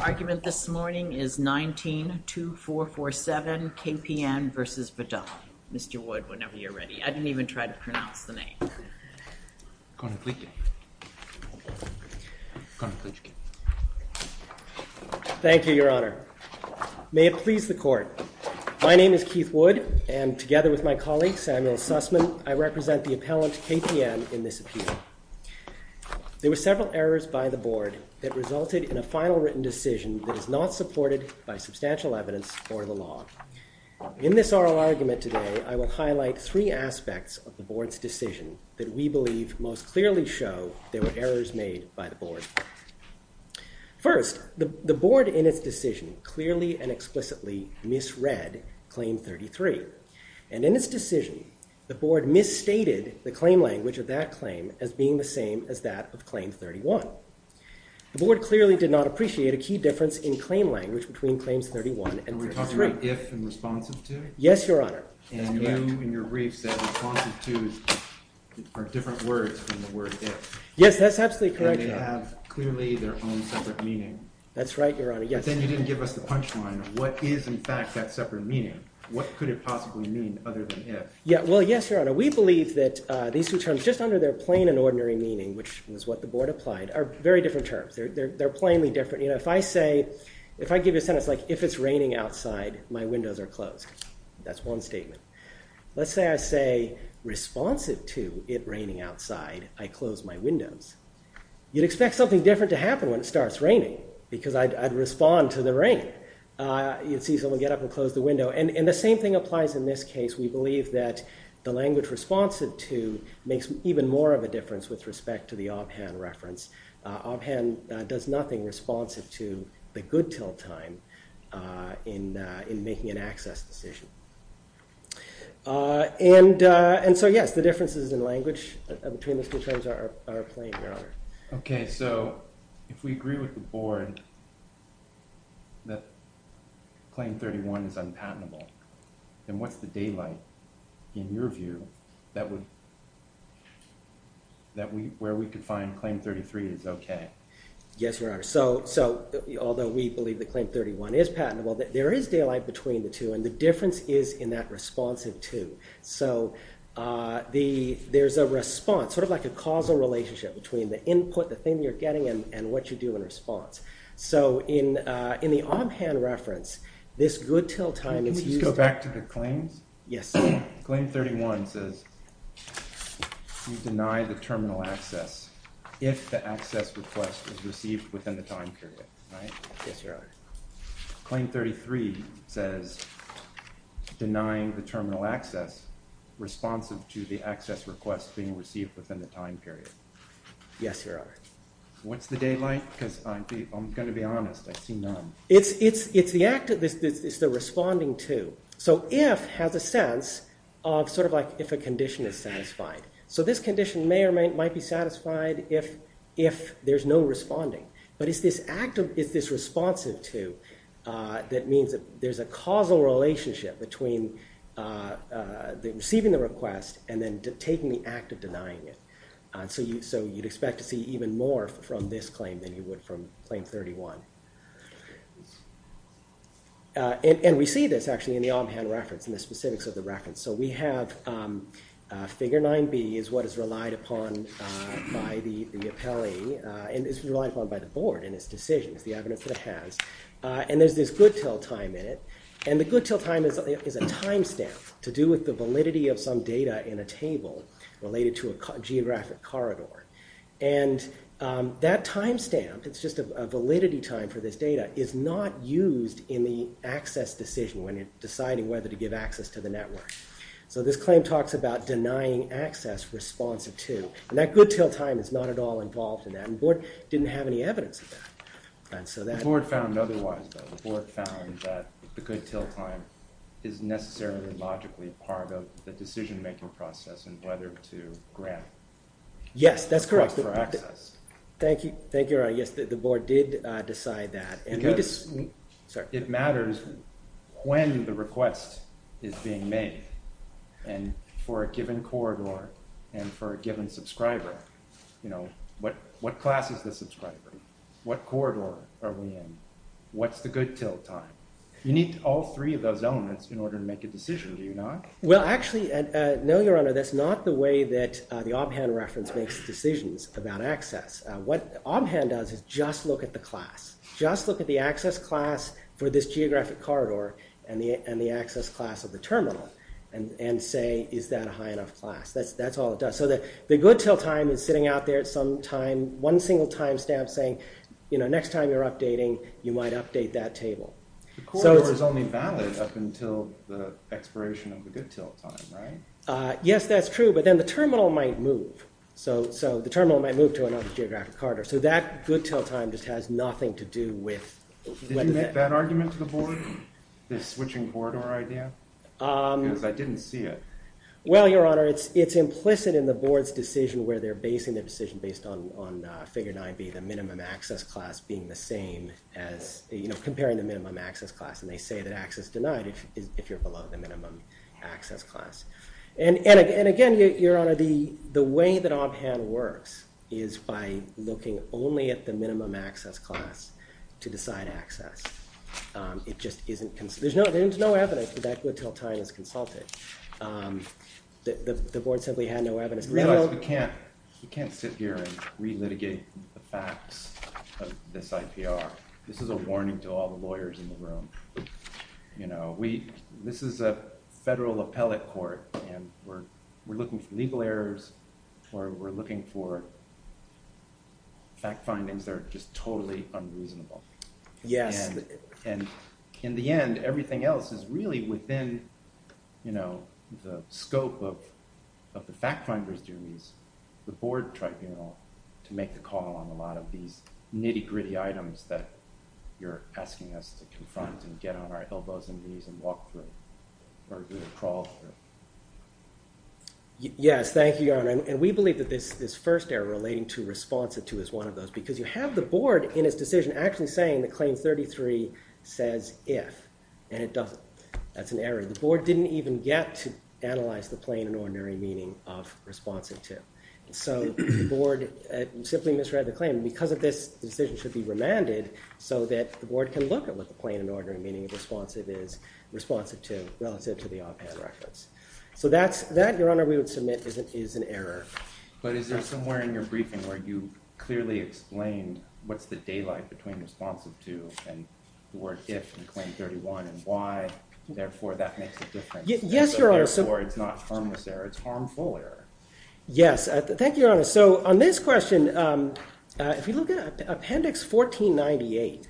Mr. Wood, whenever you're ready. I didn't even try to pronounce the name. Thank you, Your Honour. May it please the Court. My name is Keith Wood, and together with my colleague Samuel Sussman, I represent the appellant KPN in this appeal. There were several errors by the Board that resulted in a final written decision that is not supported by substantial evidence or the law. In this oral argument today, I will highlight three aspects of the Board's decision that we believe most clearly show there were errors made by the Board. First, the Board in its decision clearly and explicitly misread Claim 33, and in its decision, the Board misstated the claim language of that claim as being the same as that of Claim 31. The Board clearly did not appreciate a key difference in claim language between Claims 31 and 31. And we're talking about if and responsive to? Yes, Your Honour. And you in your brief said responsive to are different words from the word if. Yes, that's absolutely correct, Your Honour. And they have clearly their own separate meaning. That's right, Your Honour, yes. But then you didn't give us the punchline of what is in fact that separate meaning. What could it possibly mean other than if? Well, yes, Your Honour. We the Board applied are very different terms. They're plainly different. If I say, if I give you a sentence like if it's raining outside, my windows are closed. That's one statement. Let's say I say responsive to it raining outside, I close my windows. You'd expect something different to happen when it starts raining because I'd respond to the rain. You'd see someone get up and close the window. And the same thing applies in this case. We believe that the language responsive to makes even more of a difference with respect to the ob-hand reference. Ob-hand does nothing responsive to the good till time in making an access decision. And so yes, the differences in language between the two terms are plain, Your Honour. Okay, so if we agree with the Board that Claim 31 is unpatentable, then what's the daylight in your view that would, that we, where we could find Claim 33 is okay? Yes, Your Honour. So, so although we believe that Claim 31 is patentable, there is daylight between the two and the difference is in that responsive to. So the, there's a response, sort of like a causal relationship between the input, the thing you're getting and what you do in response. So in, in the ob-hand reference, this good till time is used... Can we just go back to the claims? Yes. Claim 31 says you deny the terminal access if the access request is received within the time period, right? Yes, Your Honour. Claim 33 says denying the terminal access responsive to the access request being received within the time period. Yes, Your Honour. What's the daylight? Because I'm going to be honest, I see none. It's, it's, it's the act of this, it's the responding to. So if has a sense of sort of like if a condition is satisfied. So this condition may or might be satisfied if, if there's no responding, but it's this active, it's this responsive to that means that there's a causal relationship between receiving the request and then taking the act of denying it. So you, so you'd expect to see even more from this claim than you would from claim 31. And we see this actually in the ob-hand reference and the specifics of the reference. So we have figure 9B is what is relied upon by the, the appellee and is relied upon by the board in its decisions, the evidence that it has. And there's this good till time in it. And the good till time is, is a timestamp to do with the validity of some data in a table related to a geographic corridor. And that timestamp, it's just a validity time for this data, is not used in the access decision when you're deciding whether to give access to the network. So this claim talks about denying access responsive to, and that good till time is not at all involved in that. And the board didn't have any evidence of that. And so that's... The board found otherwise though. The board found that the good till time is necessarily and logically part of the decision-making process and whether to grant... Yes, that's correct. ...the request for access. Thank you. Thank you. Yes, the board did decide that. And we just... Because it matters when the request is being made and for a given corridor and for a given subscriber, you know, what, what class is the subscriber? What corridor are we in? What's the good till time? You need all three of those elements in order to make a decision, do you not? Well, actually, no, your honor, that's not the way that the Obhan reference makes decisions about access. What Obhan does is just look at the class, just look at the access class for this geographic corridor and the, and the access class of the terminal and, and say, is that a high enough class? That's, that's all it does. So the, the good till time is sitting out there at some time, one single timestamp saying, you know, next time you're updating, you might update that table. So it's... The corridor is only valid up until the expiration of the good till time, right? Yes, that's true, but then the terminal might move. So, so the terminal might move to another geographic corridor. So that good till time just has nothing to do with... Did you make that argument to the board? This switching corridor idea? Because I didn't see it. Well, your honor, it's, it's implicit in the board's decision where they're basing their decision based on, on figure 9B, the minimum access class being the same as, you know, comparing the minimum access class, and they say that access denied if, if you're below the minimum access class. And, and again, your honor, the, the way that Obhan works is by looking only at the minimum access class to decide access. It just isn't, there's no, there's no evidence that that good till time is consulted. The, the board simply had no I realize we can't, we can't sit here and re-litigate the facts of this IPR. This is a warning to all the lawyers in the room. You know, we, this is a federal appellate court, and we're, we're looking for legal errors, we're, we're looking for fact findings that are just totally unreasonable. Yes. And, and in the end, everything else is really within, you know, the scope of, of the fact finders duties, the board tribunal to make the call on a lot of these nitty gritty items that you're asking us to confront and get on our elbows and knees and walk through or crawl through. Yes, thank you, your honor, and we believe that this, this first error relating to response to is one of those, because you have the board in its decision actually saying that claim 33 says if, and it doesn't. That's an error. The board didn't even get to analyze the plain and ordinary meaning of responsive to. So the board simply misread the claim. Because of this decision should be remanded so that the board can look at what the plain and ordinary meaning of responsive is, responsive to, relative to the op-ed reference. So that's, that, your honor, we would submit is an error. But is there somewhere in your briefing where you clearly explained what's the daylight between responsive to and the word if in claim 31 and why therefore that makes a difference. Yes, your honor. Therefore it's not harmless error, it's harmful error. Yes, thank you, your honor. So on this question if you look at appendix 1498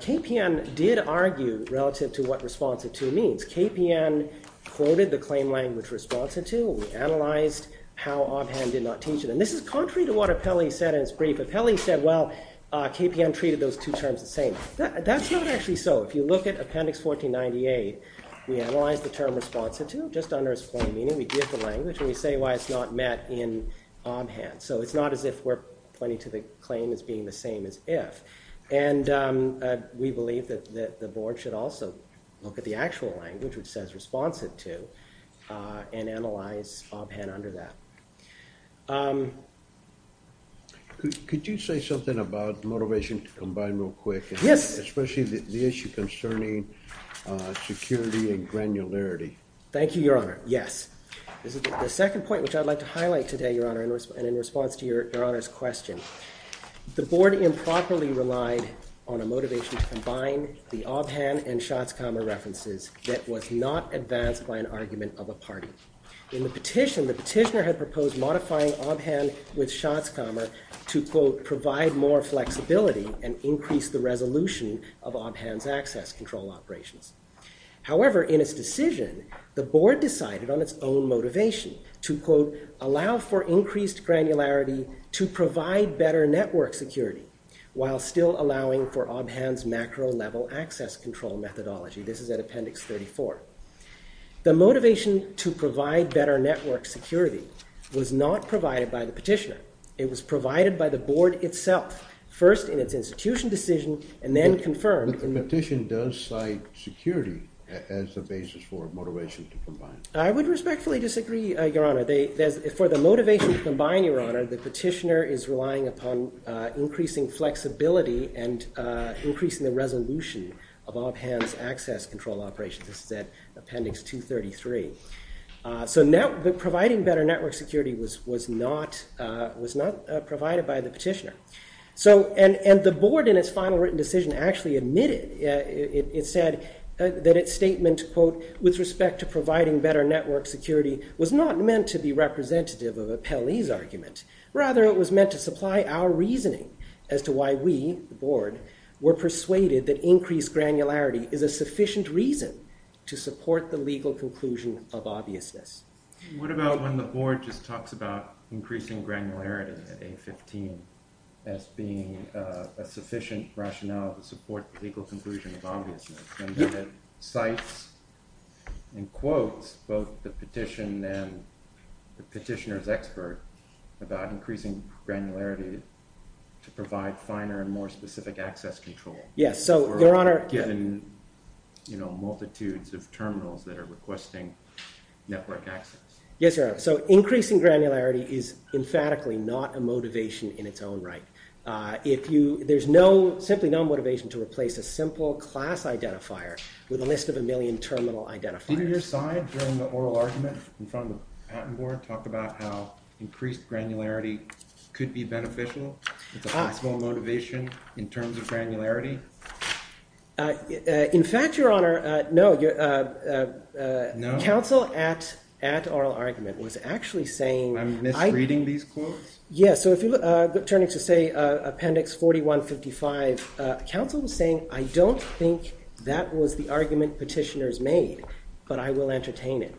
KPN did argue relative to what responsive to means. KPN quoted the claim language responsive to. We analyzed how Obhan did not teach it. And this is contrary to what Apelli said in his brief. Apelli said, well, KPN treated those two terms the same. That's not actually so. If you look at appendix 1498 we analyze the term responsive to just under its plain meaning. We give the language and we say why it's not met in Obhan. So it's not as if we're pointing to the claim as being the same as if. And we believe that the board should also look at the actual language which says responsive to and analyze Obhan under that. Could you say something about the motivation to combine real quick. Yes. Especially the issue concerning security and granularity. Thank you, your honor. Yes. The second point which I'd like to highlight today, your honor, and in response to your honor's question. The board improperly relied on a motivation to combine the Obhan and Schatzkamer references that was not advanced by an argument of a party. In the petition the petitioner had proposed modifying Obhan with Schatzkamer to quote provide more flexibility and increase the resolution of Obhan's access control operations. However in its decision the board decided on its own motivation to quote allow for increased granularity to provide better network security while still allowing for Obhan's macro level access control methodology. This is at appendix 34. The motivation to provide better network security was not provided by the petitioner. It was provided by the board itself. First in its institution decision and then confirmed. The petition does cite security as the basis for motivation to combine. I would respectfully disagree, your honor. For the motivation to combine, your honor, the petitioner is relying upon increasing flexibility and increasing the resolution of Obhan's access control operations. This is at appendix 233. So now providing better network security was not provided by the petitioner. And the board in its final written decision actually admitted, it said that its statement quote with respect to providing better network security was not meant to be representative of a Pele's argument. Rather it was meant to supply our reasoning as to why we, the board, were persuaded that increased granularity is a sufficient reason to support the legal conclusion of obviousness. What about when the board just talks about increasing granularity at A15 as being a sufficient rationale to support the legal conclusion of obviousness and then it cites in quotes both the petition and the petitioner's expert about increasing granularity to provide finer and more specific access control. Yes, so your honor. Given the, you know, multitudes of terminals that are requesting network access. Yes, your honor. So increasing granularity is emphatically not a motivation in its own right. If you, there's no, simply no motivation to replace a simple class identifier with a list of a million terminal identifiers. Didn't your side during the oral argument in front of the patent board talk about how increased granularity could be beneficial as a possible motivation in terms of granularity? In fact, your honor, no. No. Counsel at oral argument was actually saying. I'm misreading these quotes? Yes, so if you look, turning to say appendix 4155, counsel was saying I don't think that was the argument petitioners made, but I will entertain it.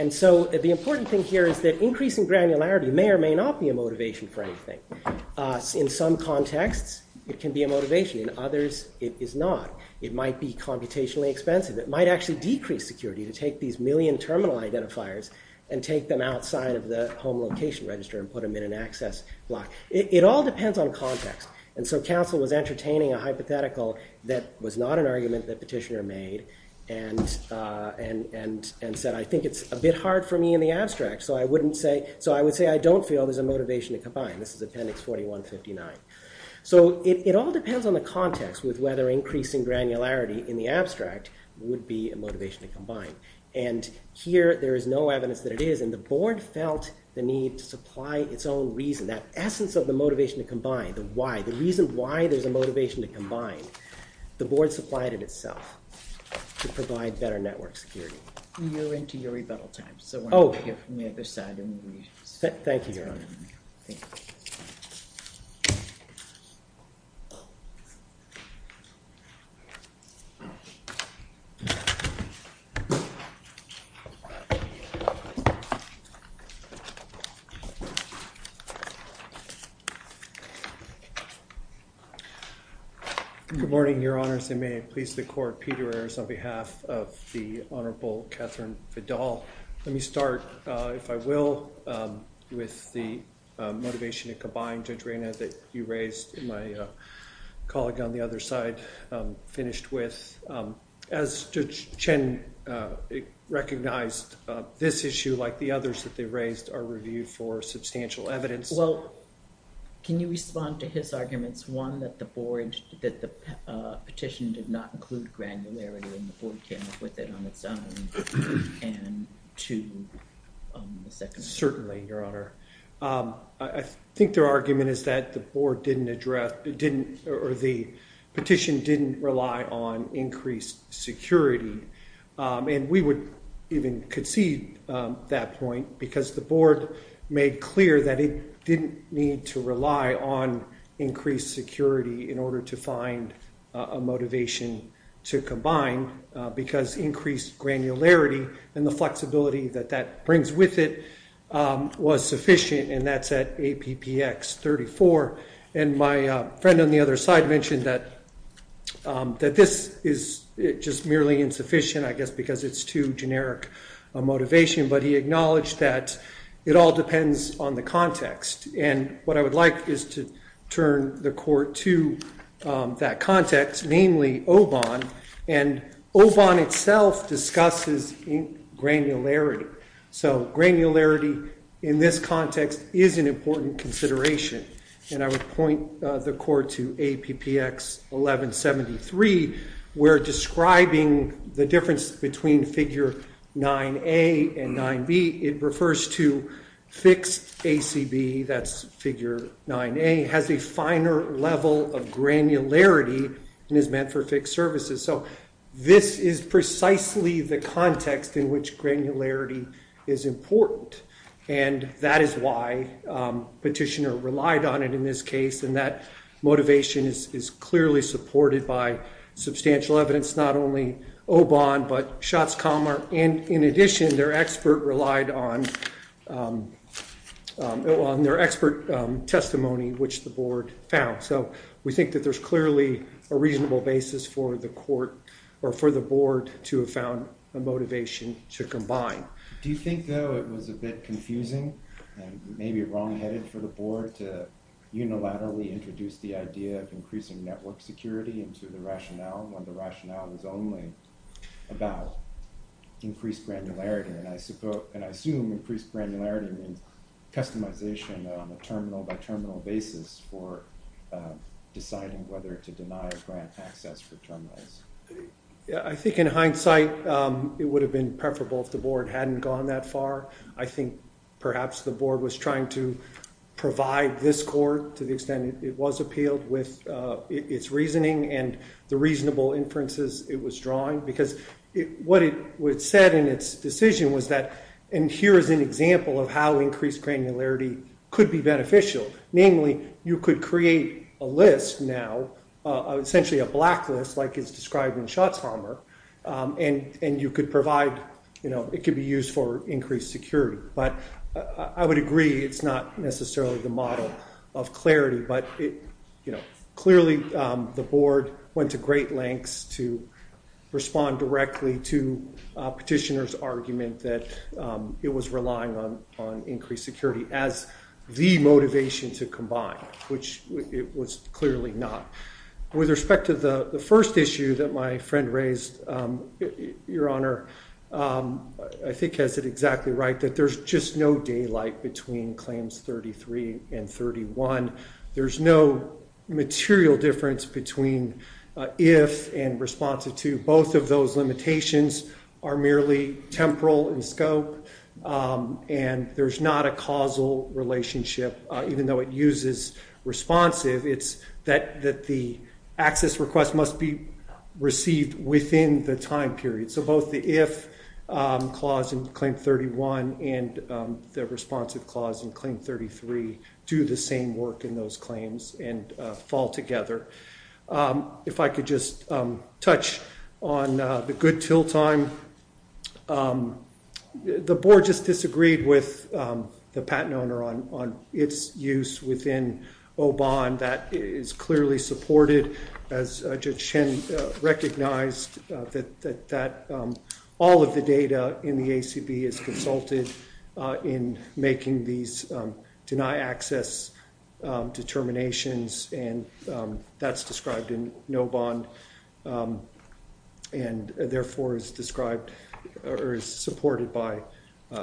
And so the important thing here is that increasing granularity may or may not be a motivation for anything. In some contexts it can be a motivation, in others it is not. It might be computationally expensive. It might actually decrease security to take these million terminal identifiers and take them outside of the home location register and put them in an access block. It all depends on context, and so counsel was entertaining a hypothetical that was not an argument that petitioner made and said I think it's a bit hard for me in the abstract so I wouldn't say, so I would say I don't feel there's a motivation to combine. This is appendix 4159. So it all depends on the context with whether increasing granularity in the abstract would be a motivation to combine. And here there is no evidence that it is, and the board felt the need to supply its own reason, that essence of the motivation to combine, the why, the reason why there's a motivation to combine. The board supplied it itself to provide better network security. You're into your rebuttal time, so why don't we hear from the other side. Thank you, Your Honor. Good morning, Your Honors, and may it please the Court, Peter Ayers on behalf of the Honorable Catherine Vidal. Let me start, if I will, with the motivation to combine, Judge Reyna, that you raised and my colleague on the other side finished with. As Judge Chen recognized, this issue like the others that they raised are reviewed for substantial evidence. Can you respond to his arguments, one, that the board, that the petition did not include granularity and the board came up with it on its own, and two, certainly, Your Honor. I think their argument is that the petition didn't rely on increased security, and we would even concede that point because the board made clear that it didn't need to rely on increased security in order to find a motivation to combine because increased granularity and the flexibility that that brings with it was sufficient, and that's at APPX 34, and my friend on the other side mentioned that this is just merely insufficient, I guess because it's too generic a motivation, but he acknowledged that it all depends on the context, and what I would like is to turn the Court to that context, namely OBON, and OBON itself discusses granularity, so granularity in this context is an important consideration, and I would point the Court to APPX 1173 where describing the difference between figure 9A and 9B, it refers to fixed ACB, that's figure 9A, has a finer level of granularity and is meant for fixed services, so this is precisely the context in which granularity is important, and that is why petitioner relied on it in this case, and that motivation is clearly supported by substantial evidence, not only OBON, but Shotzkammer, and in addition, their expert relied on their expert testimony, which the Board found, so we think that there's clearly a reasonable basis for the Court, or for the Board, to have found a motivation to combine. Do you think, though, it was a bit confusing, and maybe wrong-headed for the Board to unilaterally introduce the idea of increasing network security into the rationale, when the rationale was only about increased granularity, and I assume increased granularity means customization on a terminal-by-terminal basis for deciding whether to deny a grant access for terminals. I think in hindsight, it would have been preferable if the Board hadn't gone that far. I think perhaps the Board was trying to provide this Court, to the extent it was appealed, with its reasoning and the reasonable inferences it was drawing, because what it said in its decision was that, and here is an example of how increased granularity could be beneficial. Namely, you could create a list now, essentially a blacklist, like is described in Shotzkammer, and you could provide, you know, it could be used for increased security. But I would agree it's not necessarily the model of clarity, but clearly the Board went to great lengths to respond directly to the petitioner's argument that it was relying on increased security as the motivation to combine, which it was clearly not. With respect to the first issue that my friend raised, Your Honor, I think has it exactly right that there's just no daylight between claims 33 and 31. There's no material difference between if and responsive to. Both of those limitations are merely temporal in scope and there's not a causal relationship even though it uses responsive. It's that the access request must be received within the time period. So both the if clause in Claim 31 and the responsive clause in Claim 33 do the same work in those claims and fall together. If I could just touch on the good till time. The Board just disagreed with the patent owner on its use within OBON that is clearly supported as Judge Chen recognized that all of the data in the ACB is consulted in making these deny access determinations and that's described in OBON and therefore is described or is supported by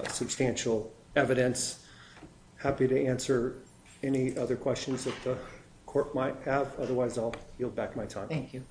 substantial evidence. Happy to answer any other questions that the Court might have. Otherwise, I'll yield back my time. Thank you.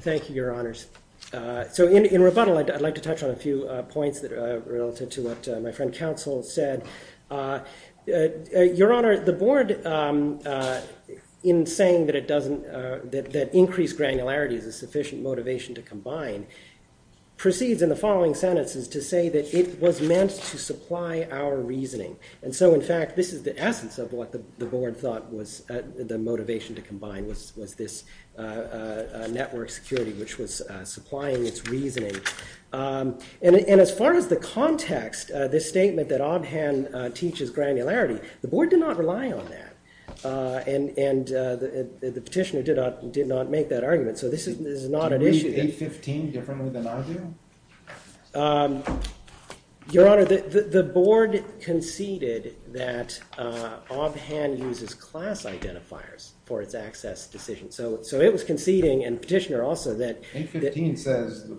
Thank you, Your Honours. In rebuttal, I'd like to touch on a few points related to what my friend Counsel said. Your Honours, the Board in saying that increased granularity is a sufficient motivation to combine, proceeds in the following sentences to say that it was meant to supply our reasoning. And so, in fact, this is the essence of what the Board thought was the motivation to combine was this network security which was supplying its reasoning. And as far as the context, this statement that OBHAN teaches granularity, the Board did not rely on that and the Petitioner did not make that argument. So this is not an issue. Did you read A15 differently than I do? Your Honours, the Board conceded that OBHAN uses class identifiers for its access decisions. So it was conceding and Petitioner also that. A15 says the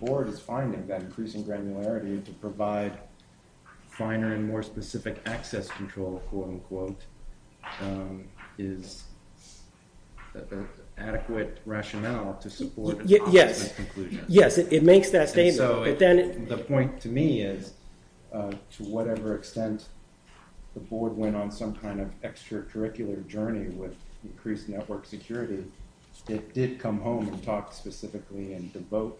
Board is finding that increasing granularity to provide finer and more specific access control, quote-unquote, is adequate rationale to support its conclusion. Yes, it makes that statement. The point to me is, to whatever extent the Board went on some kind of extracurricular journey with increased network security, it did come home and talk specifically and devote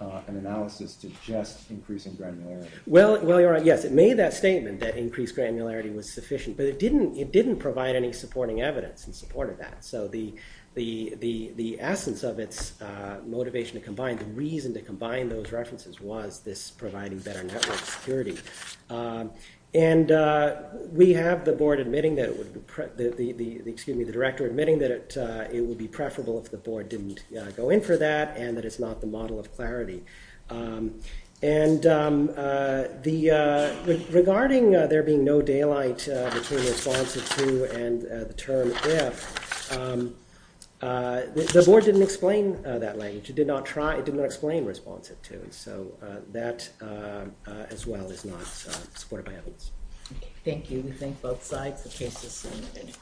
an analysis to just increasing granularity. Yes, it made that statement that increased granularity was sufficient, but it didn't provide any supporting evidence in support of that. So the essence of its motivation to combine, the reason to combine those references was this providing better network security. And we have the Board admitting that, excuse me, the Director admitting that it would be preferable if the Board didn't go in for that and that it's not the model of clarity. And regarding there being no daylight between responsive to and the term if, the Board didn't explain that language. It did not try, it did not explain responsive to. So that as well is not supported by evidence. Thank you. We thank both sides. The case is submitted.